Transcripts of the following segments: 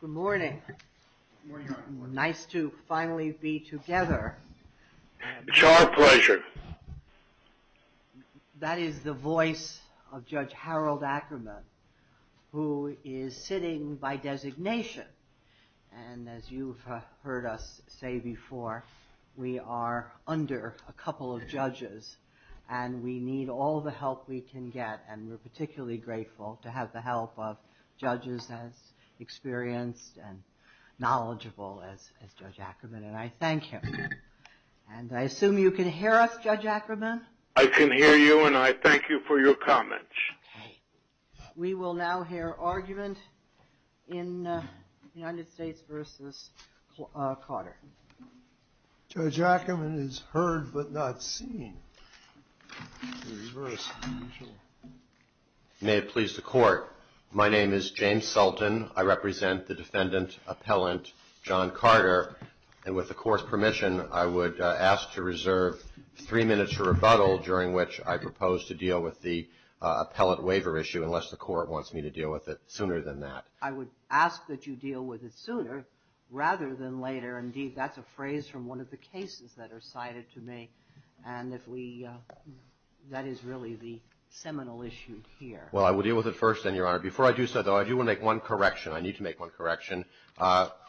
Good morning. Nice to finally be together. It's our pleasure. That is the voice of Judge Harold Ackerman, who is sitting by designation. And as you've heard us say before, we are particularly grateful to have the help of judges as experienced and knowledgeable as Judge Ackerman, and I thank him. And I assume you can hear us, Judge Ackerman? I can hear you, and I thank you for your comments. Okay. We will now hear argument in United States v. Carter. Judge Ackerman is heard but not seen. May it please the Court. My name is James Sultan. I represent the defendant appellant John Carter, and with the Court's permission, I would ask to reserve three minutes for rebuttal, during which I propose to deal with the appellant waiver issue, unless the Court wants me to deal with it sooner than that. I would ask that you deal with it sooner rather than later. Indeed, that's a phrase from one of the cases that are cited to me, and if we, that is really the seminal issue here. Well, I will deal with it first, then, Your Honor. Before I do so, though, I do want to make one correction. I need to make one correction.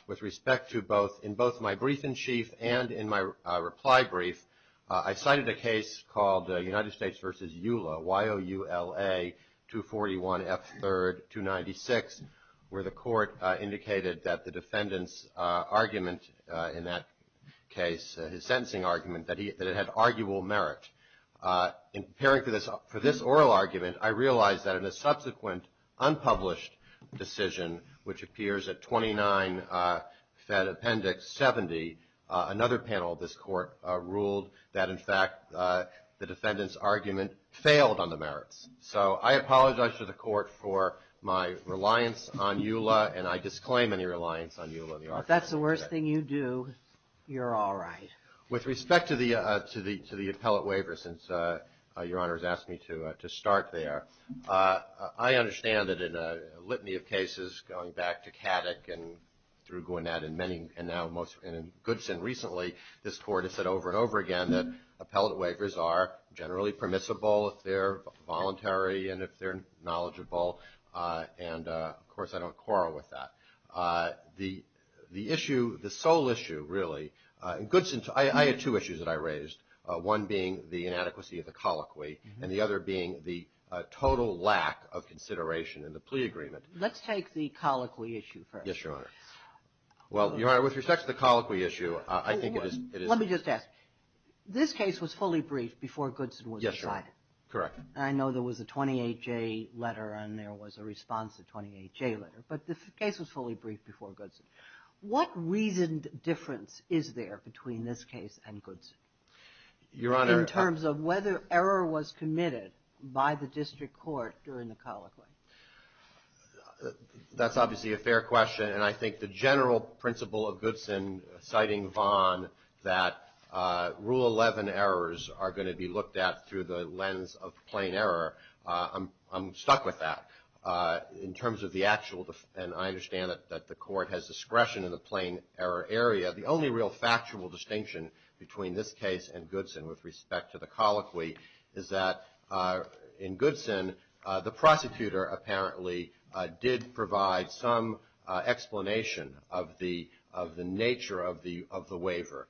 With respect to both, in both my brief in chief and in my reply brief, I cited a case called United States v. EULA, Y-O-U-L-A, 241 F. 3rd, 296, where the Court indicated that the defendant's argument in that case, his sentencing argument, that it had arguable merit. In preparing for this oral argument, I realized that in a subsequent unpublished decision, which the defendant's argument failed on the merits. So I apologize to the Court for my reliance on EULA, and I disclaim any reliance on EULA in the argument. If that's the worst thing you do, you're all right. With respect to the appellant waiver, since Your Honor has asked me to start there, I understand that in a litany of cases, going back to Kaddick and through Gwinnett and many, and now most, and in Goodson recently, this Court has said over and over again that appellant waivers are generally permissible if they're voluntary and if they're knowledgeable. And of course, I don't quarrel with that. The issue, the sole issue, really, in Goodson, I had two issues that I raised, one being the inadequacy of the colloquy, and the other being the total lack of consideration in the plea agreement. Let's take the colloquy issue first. Yes, Your Honor. Well, Your Honor, with respect to the colloquy issue, I think it is... Let me just ask. This case was fully briefed before Goodson was decided. Yes, Your Honor. Correct. And I know there was a 28-J letter, and there was a response to the 28-J letter, but the case was fully briefed before Goodson. What reasoned difference is there between this case and Goodson? Your Honor... In terms of whether error was committed by the district court during the colloquy? That's obviously a fair question, and I think the general principle of Goodson citing Vaughan that Rule 11 errors are going to be looked at through the lens of plain error, I'm stuck with that. In terms of the actual, and I understand that the court has discretion in the plain error area, the only real factual distinction between this case and Goodson with respect to the colloquy is that in Goodson, the prosecutor apparently did provide some explanation of the nature of the waiver.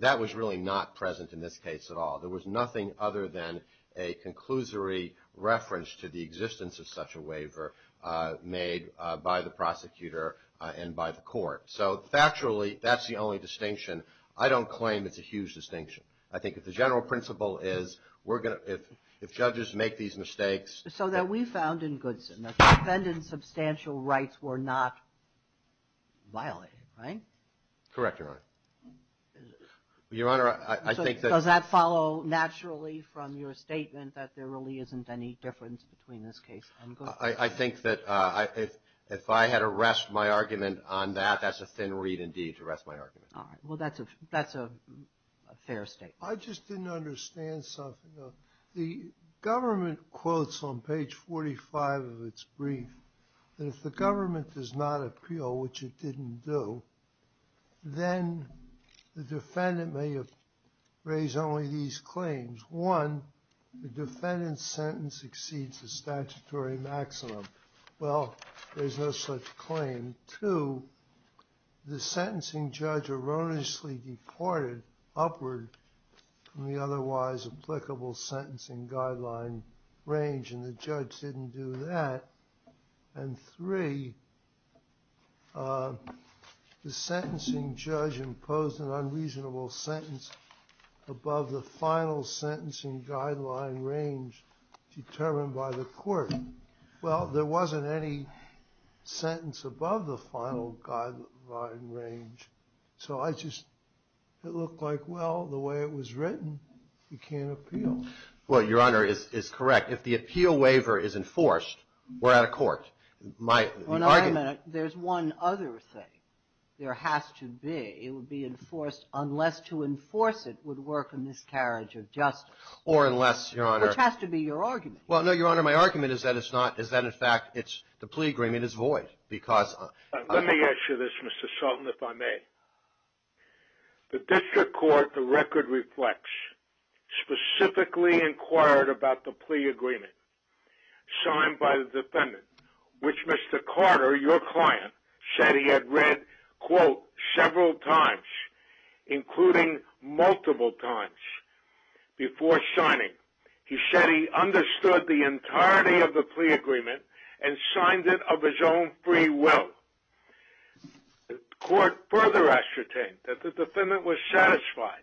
That was really not present in this case at all. There was nothing other than a conclusory reference to the existence of such a waiver made by the prosecutor and by the court. So, factually, that's the only distinction. I don't claim it's a huge distinction. I think that the general principle is we're going to, if judges make these mistakes... So that we found in Goodson that the defendant's substantial rights were not violated, right? Correct, Your Honor. Your Honor, I think that... Does that follow naturally from your statement that there really isn't any difference between this case and Goodson? I think that if I had to rest my argument on that, that's a thin reed indeed to rest my argument. All right. Well, that's a fair statement. I just didn't understand something. The government quotes on page 45 of its brief that if the government does not appeal, which it didn't do, then the defendant may have raised only these claims. One, the defendant's sentence exceeds the statutory maximum. Well, there's no such claim. And two, the sentencing judge erroneously deported upward from the otherwise applicable sentencing guideline range, and the judge didn't do that. And three, the sentencing judge imposed an unreasonable sentence above the final sentencing guideline range determined by the court. Well, there wasn't any sentence above the final guideline range, so I just... It looked like, well, the way it was written, you can't appeal. Well, Your Honor, it's correct. If the appeal waiver is enforced, we're out of court. My argument... Well, now, wait a minute. There's one other thing. There has to be. It would be enforced unless to enforce it would work a miscarriage of justice. Or unless, Your Honor... Which has to be your argument. Well, no, Your Honor. My argument is that it's not. Is that, in fact, the plea agreement is void because... Let me ask you this, Mr. Sultan, if I may. The district court, the record reflects, specifically inquired about the plea agreement signed by the defendant, which Mr. Carter, your client, said he had read, quote, several times, including multiple times before signing. He said he understood the entirety of the plea agreement and signed it of his own free will. The court further ascertained that the defendant was satisfied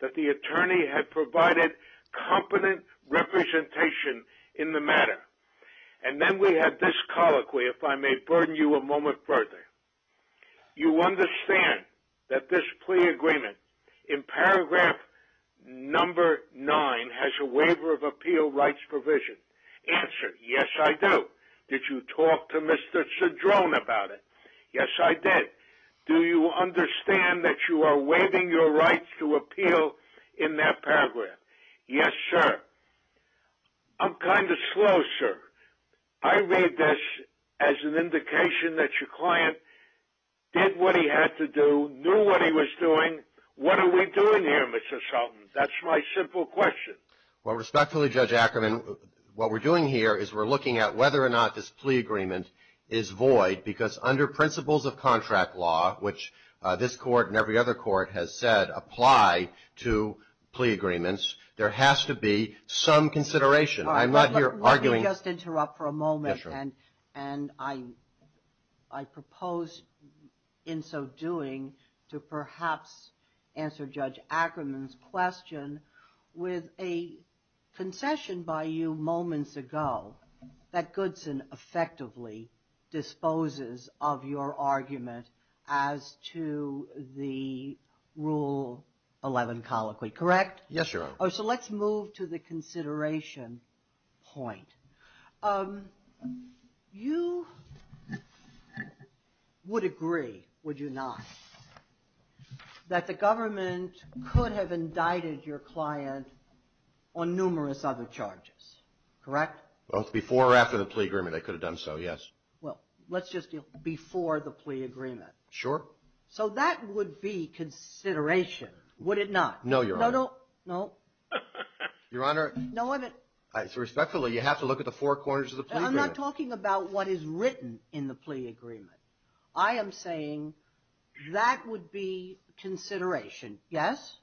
that the attorney had provided competent representation in the matter. And then we had this colloquy, if I may burden you a moment further. You understand that this plea agreement, in paragraph number nine, has a waiver of appeal rights provision. Answer, yes, I do. Did you talk to Mr. Cedrone about it? Yes, I did. Do you understand that you are waiving your rights to appeal in that paragraph? I'm kind of slow, sir. I read this as an indication that your client did what he had to do, knew what he was doing. What are we doing here, Mr. Sultan? That's my simple question. Well, respectfully, Judge Ackerman, what we're doing here is we're looking at whether or not this plea agreement is void because under principles of contract law, which this court and every other court has said apply to plea agreements, there has to be some consideration. I'm not here arguing. Let me just interrupt for a moment. Yes, Your Honor. And I propose in so doing to perhaps answer Judge Ackerman's question with a concession by you moments ago that Goodson effectively disposes of your argument as to the Rule 11 colloquy, correct? Yes, Your Honor. So let's move to the consideration point. You would agree, would you not, that the government could have indicted your client on numerous other charges, correct? Well, before or after the plea agreement, I could have done so, yes. Well, let's just deal before the plea agreement. Sure. So that would be consideration, would it not? No, Your Honor. No, no, no. Your Honor. No, I'm not. So respectfully, you have to look at the four corners of the plea agreement. I'm not talking about what is written in the plea agreement. I am saying that would be consideration, yes?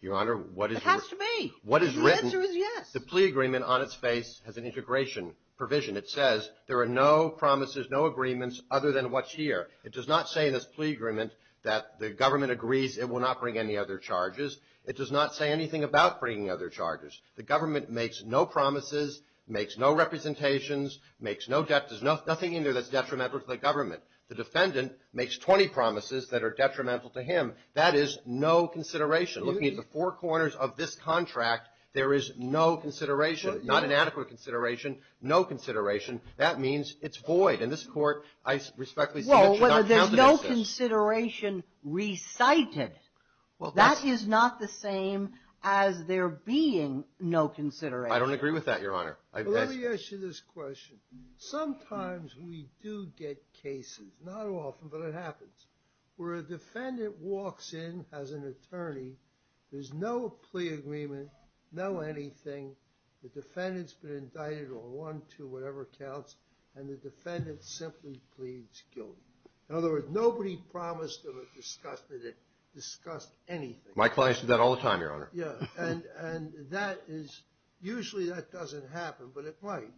Your Honor, what is written. It has to be. The answer is yes. The plea agreement on its face has an integration provision. It says there are no promises, no agreements other than what's here. It does not say in this plea agreement that the government agrees it will not bring any other charges. It does not say anything about bringing other charges. The government makes no promises, makes no representations, makes no debt. There's nothing in there that's detrimental to the government. The defendant makes 20 promises that are detrimental to him. That is no consideration. Looking at the four corners of this contract, there is no consideration, not an adequate consideration, no consideration. That means it's void. In this court, I respectfully say that should not be counted as this. Well, there's no consideration recited. That is not the same as there being no consideration. I don't agree with that, Your Honor. Let me ask you this question. Sometimes we do get cases, not often, but it happens, where a defendant walks in as an attorney. There's no plea agreement, no anything. The defendant's been indicted on one, two, whatever counts. And the defendant simply pleads guilty. In other words, nobody promised him a discussion that discussed anything. My clients do that all the time, Your Honor. Yeah, and that is usually that doesn't happen, but it might.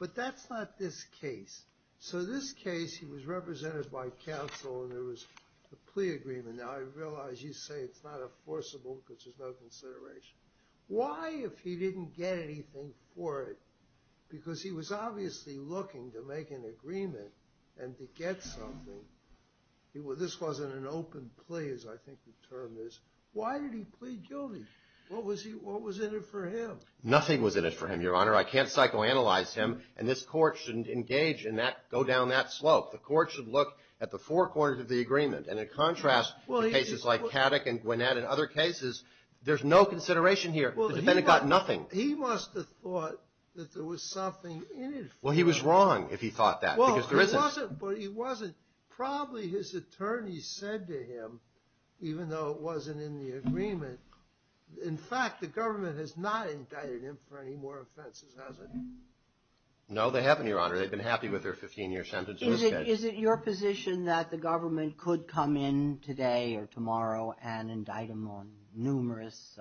But that's not this case. So this case, he was represented by counsel and there was a plea agreement. Now, I realize you say it's not enforceable because there's no consideration. Why if he didn't get anything for it? Because he was obviously looking to make an agreement and to get something. This wasn't an open plea, as I think the term is. Why did he plead guilty? What was in it for him? Nothing was in it for him, Your Honor. I can't psychoanalyze him, and this court shouldn't engage in that, go down that slope. The court should look at the four corners of the agreement. And it contrasts cases like Caddick and Gwinnett and other cases. There's no consideration here. The defendant got nothing. He must have thought that there was something in it for him. Well, he was wrong if he thought that because there isn't. Well, he wasn't, but he wasn't. Probably his attorney said to him, even though it wasn't in the agreement, in fact, the government has not indicted him for any more offenses, has it? No, they haven't, Your Honor. They've been happy with their 15-year sentence. Is it your position that the government could come in today or tomorrow and indict him on numerous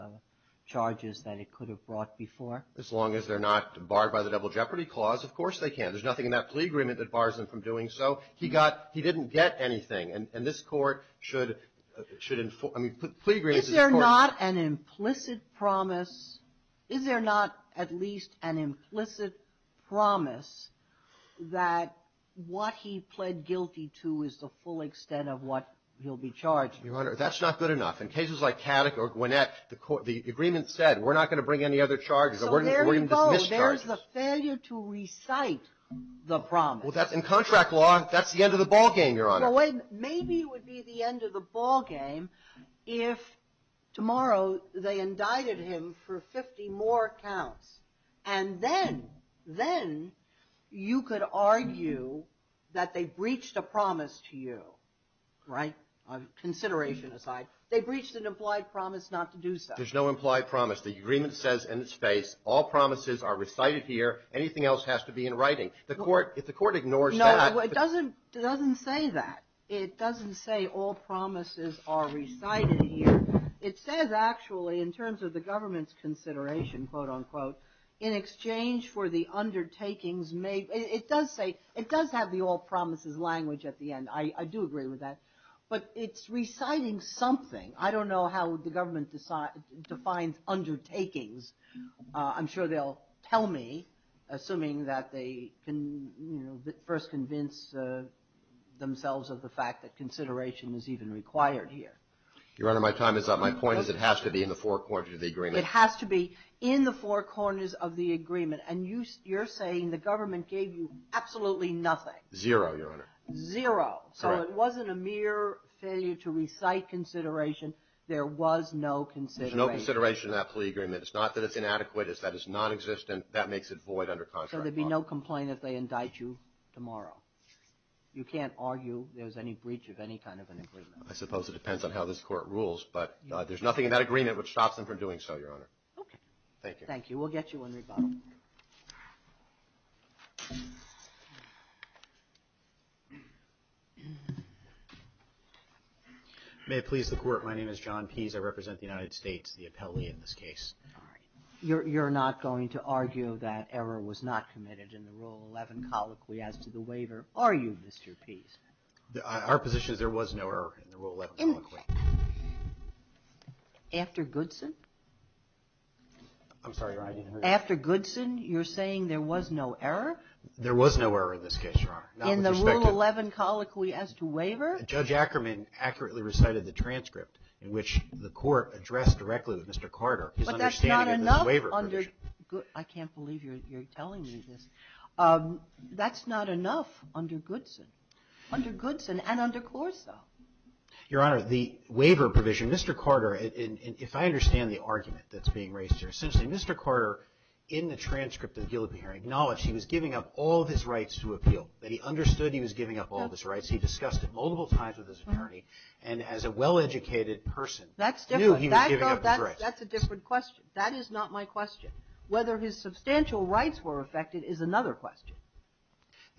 charges that it could have brought before? As long as they're not barred by the Double Jeopardy Clause, of course they can. There's nothing in that plea agreement that bars them from doing so. He got – he didn't get anything. And this court should – should – I mean, plea agreements is a court – Is there not an implicit promise – is there not at least an implicit promise that what he pled guilty to is the full extent of what he'll be charged with? Your Honor, that's not good enough. In cases like Caddock or Gwinnett, the agreement said, we're not going to bring any other charges or we're going to dismiss charges. So there you go. There's the failure to recite the promise. Well, that's – in contract law, that's the end of the ballgame, Your Honor. Well, wait. Maybe it would be the end of the ballgame if tomorrow they indicted him for 50 more counts. And then – then you could argue that they breached a promise to you, right? Consideration aside. They breached an implied promise not to do so. There's no implied promise. The agreement says in its face, all promises are recited here. Anything else has to be in writing. The court – if the court ignores that – No, it doesn't – it doesn't say that. It doesn't say all promises are recited here. It says actually in terms of the government's consideration, quote, unquote, in exchange for the undertakings made – it does say – it does have the all promises language at the end. I do agree with that. But it's reciting something. I don't know how the government defines undertakings. I'm sure they'll tell me, assuming that they can, you know, first convince themselves of the fact that consideration is even required here. Your Honor, my time is up. My point is it has to be in the four corners of the agreement. It has to be in the four corners of the agreement. And you're saying the government gave you absolutely nothing. Zero, Your Honor. Zero. So it wasn't a mere failure to recite consideration. There was no consideration. There's no consideration in that plea agreement. It's not that it's inadequate. It's that it's nonexistent. That makes it void under contract law. So there'd be no complaint if they indict you tomorrow. You can't argue there's any breach of any kind of an agreement. I suppose it depends on how this Court rules. But there's nothing in that agreement which stops them from doing so, Your Honor. Thank you. We'll get you in rebuttal. May it please the Court. My name is John Pease. I represent the United States, the appellee in this case. Sorry. You're not going to argue that error was not committed in the Rule 11 colloquy as to the waiver, are you, Mr. Pease? Our position is there was no error in the Rule 11 colloquy. After Goodson? I'm sorry, Your Honor, I didn't hear you. After Goodson, you're saying there was no error? There was no error in this case, Your Honor. In the Rule 11 colloquy as to waiver? Judge Ackerman accurately recited the transcript in which the Court addressed directly with Mr. Carter his understanding of the waiver provision. But that's not enough under Goodson. I can't believe you're telling me this. That's not enough under Goodson, under Goodson and under Corsa. Your Honor, the waiver provision, Mr. Carter, if I understand the argument that's correct, in the transcript of the guillotine hearing acknowledged he was giving up all of his rights to appeal, that he understood he was giving up all of his rights. He discussed it multiple times with his attorney, and as a well-educated person, knew he was giving up his rights. That's different. That's a different question. That is not my question. Whether his substantial rights were affected is another question.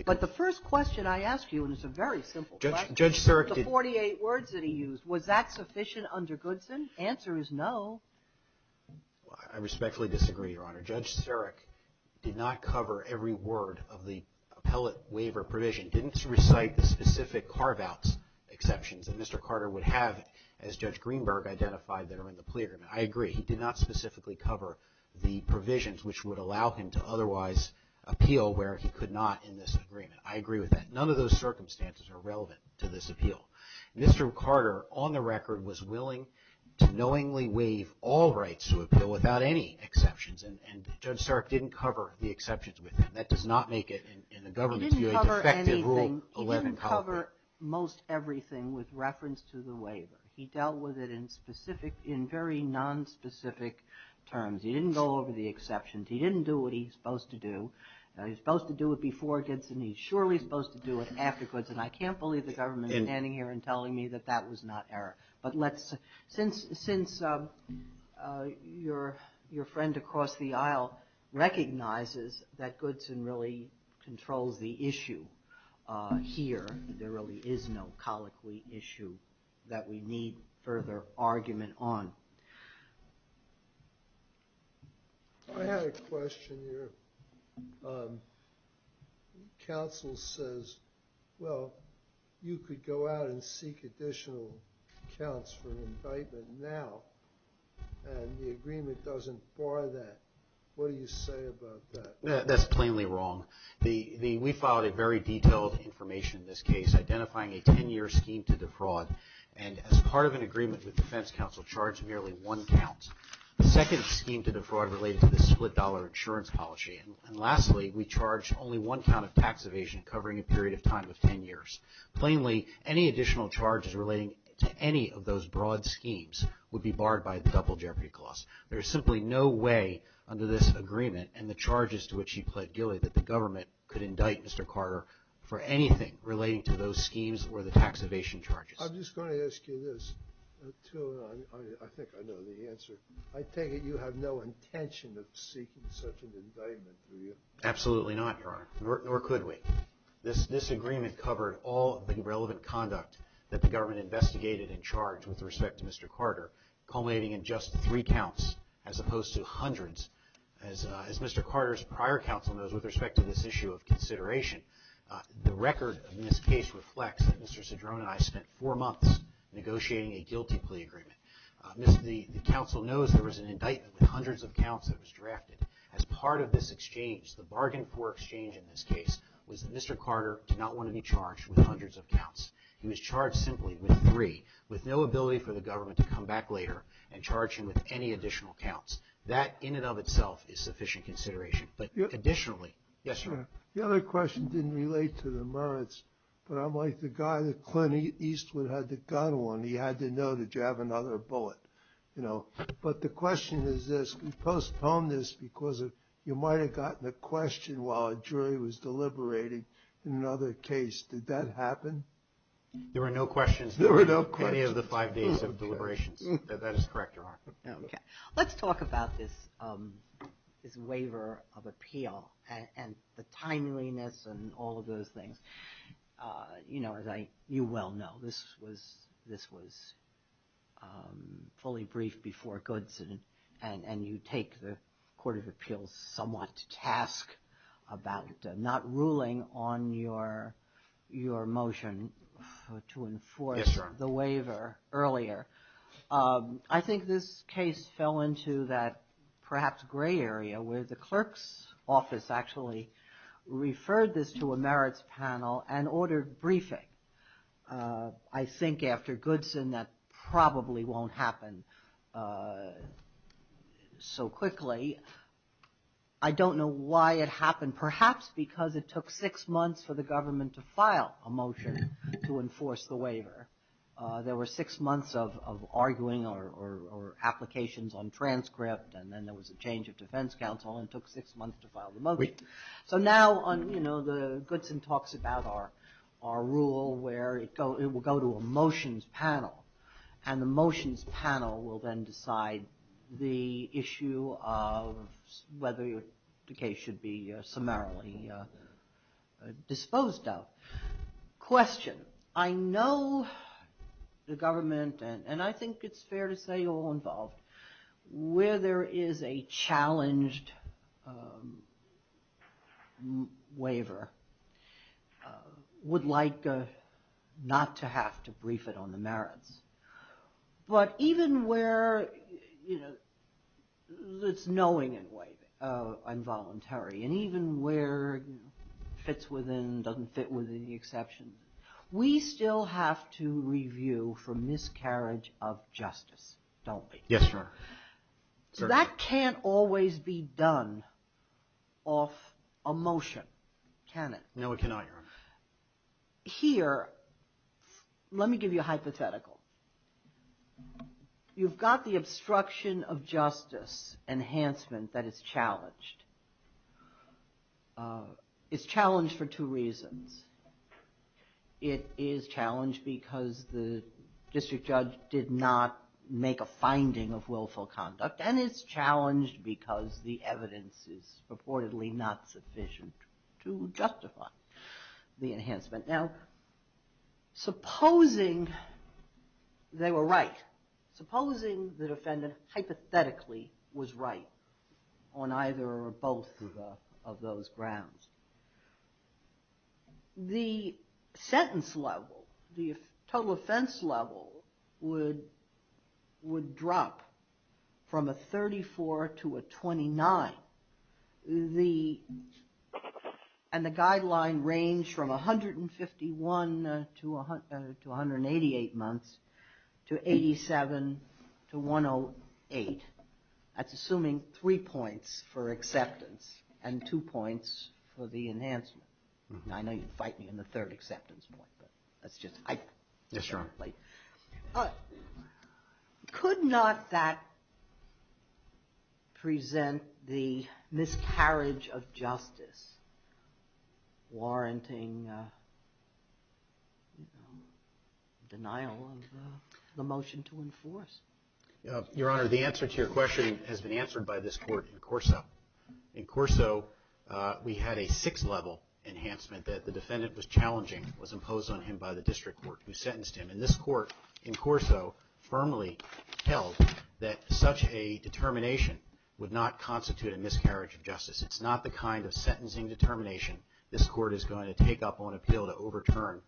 But the first question I ask you, and it's a very simple question, the 48 words that he used, was that sufficient under Goodson? Answer is no. I respectfully disagree, Your Honor. Judge Sarek did not cover every word of the appellate waiver provision, didn't recite the specific carve-outs exceptions that Mr. Carter would have as Judge Greenberg identified that are in the plea agreement. I agree. He did not specifically cover the provisions which would allow him to otherwise appeal where he could not in this agreement. I agree with that. None of those circumstances are relevant to this appeal. Mr. Carter, on the record, was willing to knowingly waive all rights to appeal without any exceptions, and Judge Sarek didn't cover the exceptions with him. That does not make it in the government's view a defective Rule 11 copy. He didn't cover most everything with reference to the waiver. He dealt with it in very nonspecific terms. He didn't go over the exceptions. He didn't do what he's supposed to do. He's supposed to do it before Goodson. He's surely supposed to do it afterwards, and I can't believe the government is standing here and telling me that that was not error. Since your friend across the aisle recognizes that Goodson really controls the issue here, there really is no colloquy issue that we need further argument on. I had a question here. Counsel says, well, you could go out and seek additional accounts for an indictment now, and the agreement doesn't bar that. What do you say about that? That's plainly wrong. We filed a very detailed information in this case identifying a 10-year scheme to defraud, and as part of an agreement with defense counsel charged merely one count. The second scheme to defraud related to the split dollar insurance policy, and lastly, we charged only one count of tax evasion covering a period of time of 10 years. Plainly, any additional charges relating to any of those broad schemes would be barred by the double jeopardy clause. There is simply no way under this agreement and the charges to which he pled guilty that I'm just going to ask you this. I think I know the answer. I take it you have no intention of seeking such an indictment, do you? Absolutely not, Your Honor, nor could we. This agreement covered all of the relevant conduct that the government investigated and charged with respect to Mr. Carter, culminating in just three counts as opposed to hundreds. As Mr. Carter's prior counsel knows with respect to this issue of consideration, the record in this case reflects that Mr. Cedrone and I spent four months negotiating a guilty plea agreement. The counsel knows there was an indictment with hundreds of counts that was drafted. As part of this exchange, the bargain for exchange in this case, was that Mr. Carter did not want to be charged with hundreds of counts. He was charged simply with three, with no ability for the government to come back later and charge him with any additional counts. That in and of itself is sufficient consideration. The other question didn't relate to the merits, but I'm like the guy that Clint Eastwood had the gun on. He had to know that you have another bullet, you know. But the question is this. We postpone this because you might have gotten a question while a jury was deliberating in another case. Did that happen? There were no questions in any of the five days of deliberations. That is correct, Your Honor. Let's talk about this waiver of appeal and the timeliness and all of those things. You know, as you well know, this was fully briefed before Goodson, and you take the Court of Appeals somewhat to task about not ruling on your motion to enforce the waiver earlier. I think this case fell into that perhaps gray area where the clerk's office actually referred this to a merits panel and ordered briefing. I think after Goodson that probably won't happen so quickly. I don't know why it happened. Perhaps because it took six months for the government to file a motion to enforce the waiver. There were six months of arguing or applications on transcript, and then there was a change of defense counsel, and it took six months to file the motion. So now, you know, Goodson talks about our rule where it will go to a motions panel, and the motions panel will then decide the issue of whether the case should be summarily disposed of. Question. I know the government, and I think it's fair to say all involved, where there is a challenged waiver would like not to have to brief it on the merits. But even where, you know, it's knowing in a way, I'm voluntary, and even where it fits within, doesn't fit within the exception, we still have to review for miscarriage of justice, don't we? Yes, sir. So that can't always be done off a motion, can it? No, it cannot, Your Honor. Here, let me give you a hypothetical. You've got the obstruction of justice enhancement that is challenged. It's challenged for two reasons. It is challenged because the district judge did not make a finding of willful conduct, and it's challenged because the evidence is purportedly not sufficient to justify the enhancement. Now, supposing they were right, supposing the defendant hypothetically was right on either or both of those grounds, the sentence level, the total offense level, would drop from a 34 to a 29. And the guideline range from 151 to 188 months to 87 to 108. That's assuming three points for acceptance and two points for the enhancement. Now, I know you'd fight me in the third acceptance point, but that's just... Yes, Your Honor. But could not that present the miscarriage of justice, warranting denial of the motion to enforce? Your Honor, the answer to your question has been answered by this Court in Corso. In Corso, we had a six-level enhancement that the defendant was challenging, was imposed on him by the district court who sentenced him. And this Court in Corso firmly held that such a determination would not constitute a miscarriage of justice. It's not the kind of sentencing determination this Court is going to take up on appeal to overturn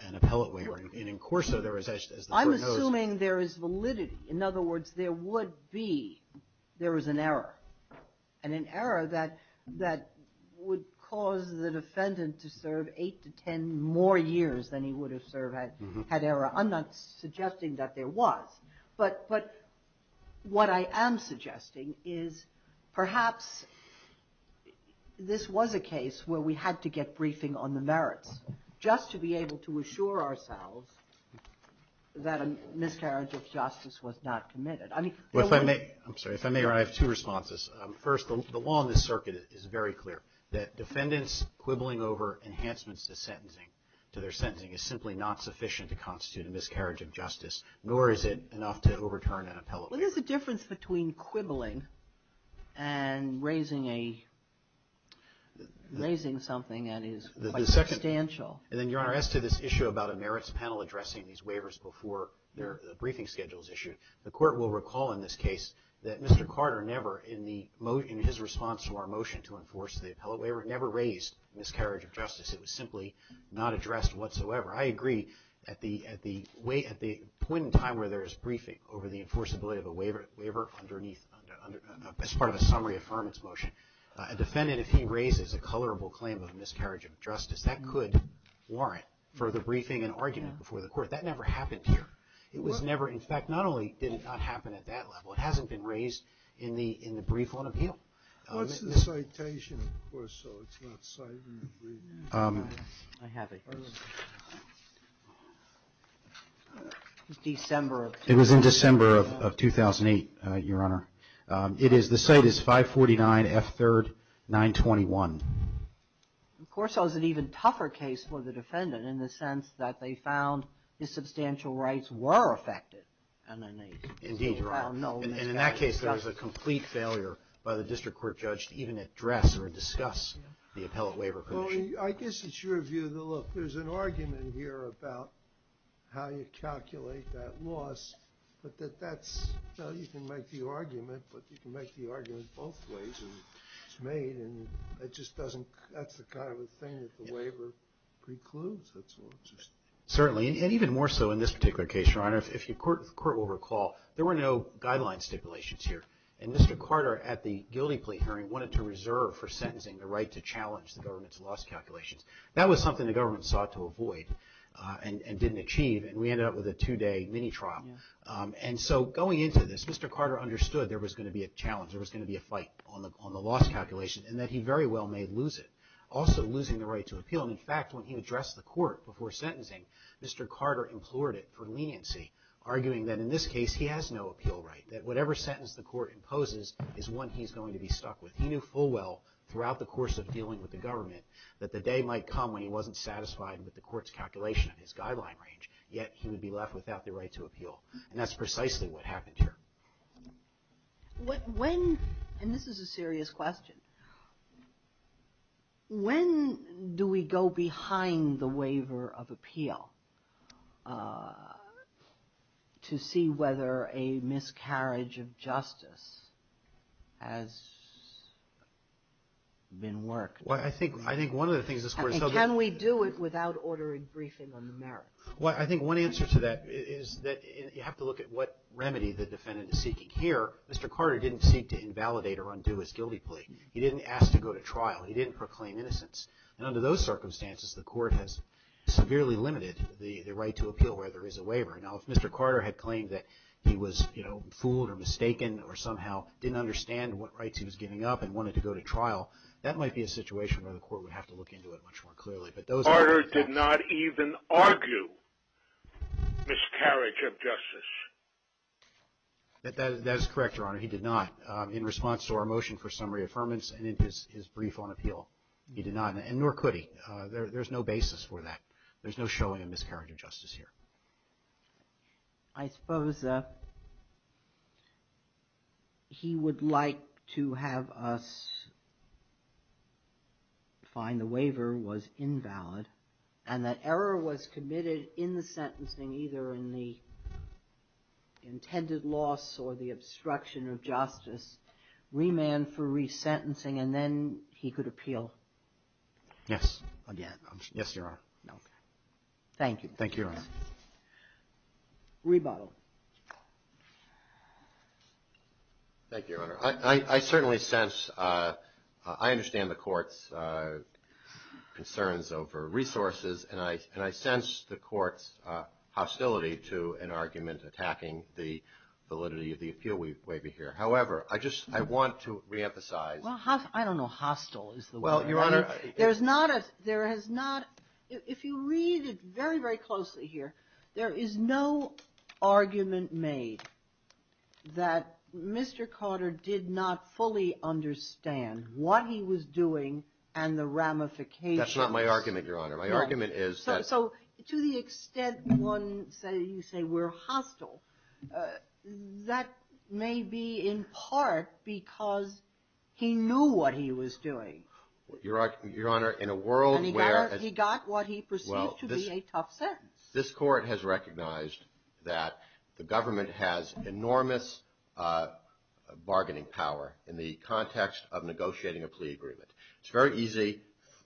an appellate waiver. And in Corso, there was, as the Court knows... I'm assuming there is validity. In other words, there would be, there was an error. And an error that would cause the defendant to serve eight to ten more years than he would have served had error. I'm not suggesting that there was. But what I am suggesting is perhaps this was a case where we had to get briefing on the merits, just to be able to assure ourselves that a miscarriage of justice was not committed. Well, if I may, I'm sorry. If I may, Your Honor, I have two responses. First, the law in this circuit is very clear that defendants quibbling over enhancements to sentencing, to their sentencing, is simply not sufficient to constitute a miscarriage of justice, nor is it enough to overturn an appellate waiver. Well, there's a difference between quibbling and raising a, raising something that is substantial. And then, Your Honor, as to this issue about a merits panel addressing these waivers before their briefing schedule is issued, the court will recall in this case that Mr. Carter never, in the, in his response to our motion to enforce the appellate waiver, never raised miscarriage of justice. It was simply not addressed whatsoever. I agree that the, at the point in time where there is briefing over the enforceability of a waiver underneath, as part of a summary affirmance motion, a defendant, if he raises a colorable claim of miscarriage of justice, that could warrant further briefing and argument before the court. That never happened here. It was never, in fact, not only did it not happen at that level, it hasn't been raised in the, in the brief on appeal. What's the citation of Corso? It's not cited in the brief. I have it. It was December of 2008. It was in December of 2008, Your Honor. It is, the site is 549 F. 3rd 921. Corso is an even tougher case for the defendant in the sense that they found his substantial rights were affected. Indeed, Your Honor. And in that case, there was a complete failure by the district court judge to even address or discuss the appellate waiver. Well, I guess it's your view that, look, there's an argument here about how you calculate that loss, but that that's, well, you can make the argument, but you can make the argument both ways, and it just doesn't, that's the kind of thing that the waiver precludes. Certainly, and even more so in this particular case, Your Honor. If the court will recall, there were no guideline stipulations here, and Mr. Carter at the guilty plea hearing wanted to reserve for sentencing the right to challenge the government's loss calculations. That was something the government sought to avoid and didn't achieve, and we ended up with a two-day mini trial. And so going into this, Mr. Carter understood there was going to be a challenge, there was going to be a fight on the loss calculation, and that he very well may lose it, also losing the right to appeal. And in fact, when he addressed the court before sentencing, Mr. Carter implored it for leniency, arguing that in this case he has no appeal right, that whatever sentence the court imposes is one he's going to be stuck with. He knew full well throughout the course of dealing with the government that the day might come when he wasn't satisfied with the court's calculation of his guideline range, yet he would be left without the right to appeal. And that's precisely what happened here. When, and this is a serious question, when do we go behind the waiver of appeal to see whether a miscarriage of justice has been worked? Well, I think, I think one of the things this court is talking about. And can we do it without ordering briefing on the merits? Well, I think one answer to that is that you have to look at what remedy the defendant is seeking. Here, Mr. Carter didn't seek to invalidate or undo his guilty plea. He didn't ask to go to trial. He didn't proclaim innocence. And under those circumstances, the court has severely limited the right to appeal where there is a waiver. Now, if Mr. Carter had claimed that he was, you know, fooled or mistaken or somehow didn't understand what rights he was giving up and wanted to go to trial, that might be a situation where the court would have to look into it much more clearly. But those are the things. Carter did not even argue miscarriage of justice. That is correct, Your Honor. He did not in response to our motion for summary affirmance and in his brief on appeal. He did not, and nor could he. There's no basis for that. There's no showing of miscarriage of justice here. I suppose he would like to have us find the waiver was invalid and that error was committed in the sentencing, either in the intended loss or the obstruction of justice, remand for resentencing, and then he could appeal. Yes. Yes, Your Honor. Thank you. Thank you, Your Honor. Rebuttal. Thank you, Your Honor. I certainly sense, I understand the court's concerns over resources, and I sense the court's hostility to an argument attacking the validity of the appeal waiver here. However, I just, I want to reemphasize. Well, I don't know hostile is the word. Well, Your Honor. There's not a, there has not, if you read it very, very closely here, there is no argument made that Mr. Carter did not fully understand what he was doing and the ramifications. That's not my argument, Your Honor. My argument is that. So to the extent one say, you say we're hostile, that may be in part because he knew what he was doing. Your Honor, in a world where. And he got what he perceived to be a tough sentence. This court has recognized that the government has enormous bargaining power in the context of negotiating a plea agreement. It's very easy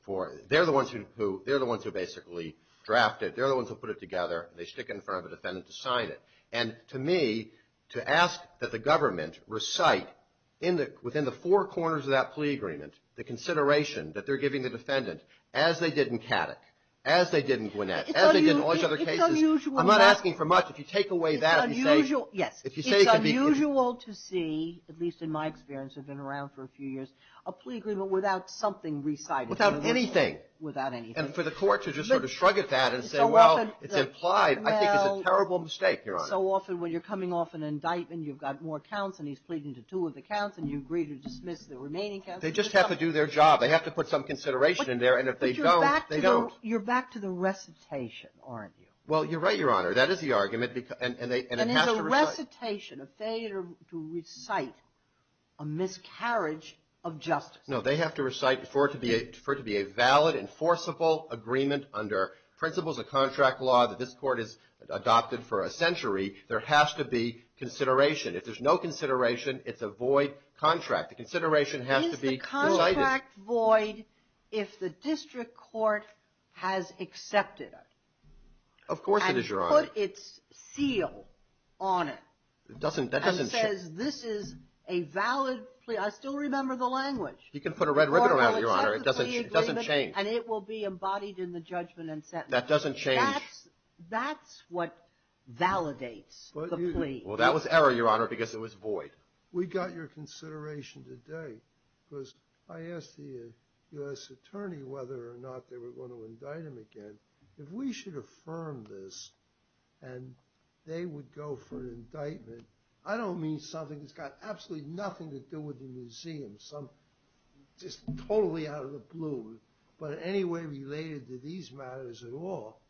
for, they're the ones who, they're the ones who basically draft it. They're the ones who put it together. They stick it in front of a defendant to sign it. And to me, to ask that the government recite in the, within the four corners of that plea agreement, the consideration that they're giving the defendant, as they did in Caddock, as they did in Gwinnett, as they did in all these other cases. It's unusual. I'm not asking for much. If you take away that and say. It's unusual, yes. If you say it could be. It's unusual to see, at least in my experience, I've been around for a few years, a plea agreement without something recited. Without anything. Without anything. And for the court to just sort of shrug at that and say, well, it's implied, I think it's a terrible mistake, Your Honor. And so often when you're coming off an indictment, you've got more counts, and he's pleading to two of the counts, and you agree to dismiss the remaining counts. They just have to do their job. They have to put some consideration in there. And if they don't, they don't. But you're back to the recitation, aren't you? Well, you're right, Your Honor. That is the argument. And it has to recite. And it's a recitation. A failure to recite a miscarriage of justice. No. They have to recite for it to be a valid, enforceable agreement under principles of contract law that this Court has adopted for a century. There has to be consideration. If there's no consideration, it's a void contract. The consideration has to be recited. Is the contract void if the district court has accepted it? Of course it is, Your Honor. And put its seal on it. It doesn't change. And says this is a valid plea. I still remember the language. You can put a red ribbon around it, Your Honor. It doesn't change. And it will be embodied in the judgment and sentence. That doesn't change. That's what validates the plea. Well, that was error, Your Honor, because it was void. We got your consideration today because I asked the U.S. attorney whether or not they were going to indict him again. If we should affirm this and they would go for an indictment, I don't mean something that's got absolutely nothing to do with the museum. Just totally out of the blue. But in any way related to these matters at all,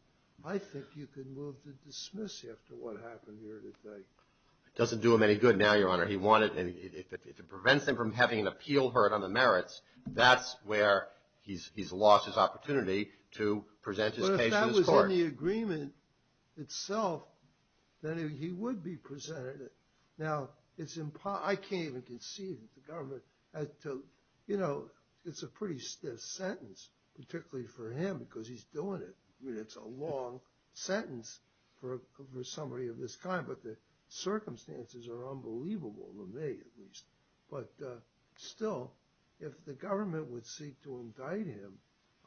I think you can move to dismiss after what happened here today. It doesn't do him any good now, Your Honor. If it prevents him from having an appeal heard on the merits, that's where he's lost his opportunity to present his case in this court. But if that was in the agreement itself, then he would be presented. Now, I can't even conceive that the government has to, you know, it's a pretty stiff sentence, particularly for him because he's doing it. I mean, it's a long sentence for somebody of this kind, but the circumstances are unbelievable to me at least. But still, if the government would seek to indict him,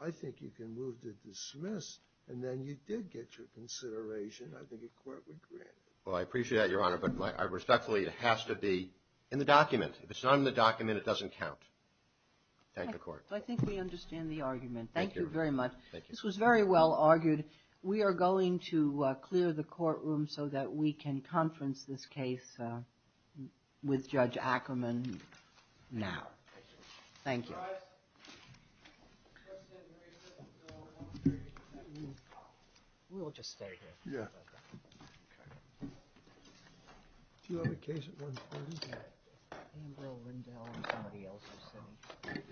I think you can move to dismiss. And then you did get your consideration, I think a court would grant it. Well, I appreciate that, Your Honor, but I respectfully, it has to be in the document. If it's not in the document, it doesn't count. Thank you, Court. I think we understand the argument. Thank you very much. This was very well argued. We are going to clear the courtroom so that we can conference this case with Judge Ackerman now. Thank you. We'll just stay here. Yeah. Okay. Do you have a case at one point? Ambrose Rindell and somebody else are sitting.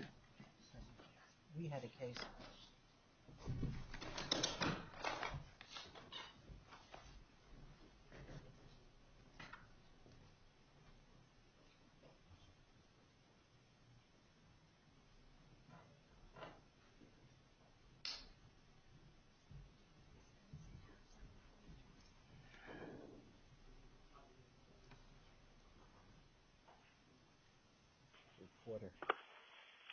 We had a case. Thank you.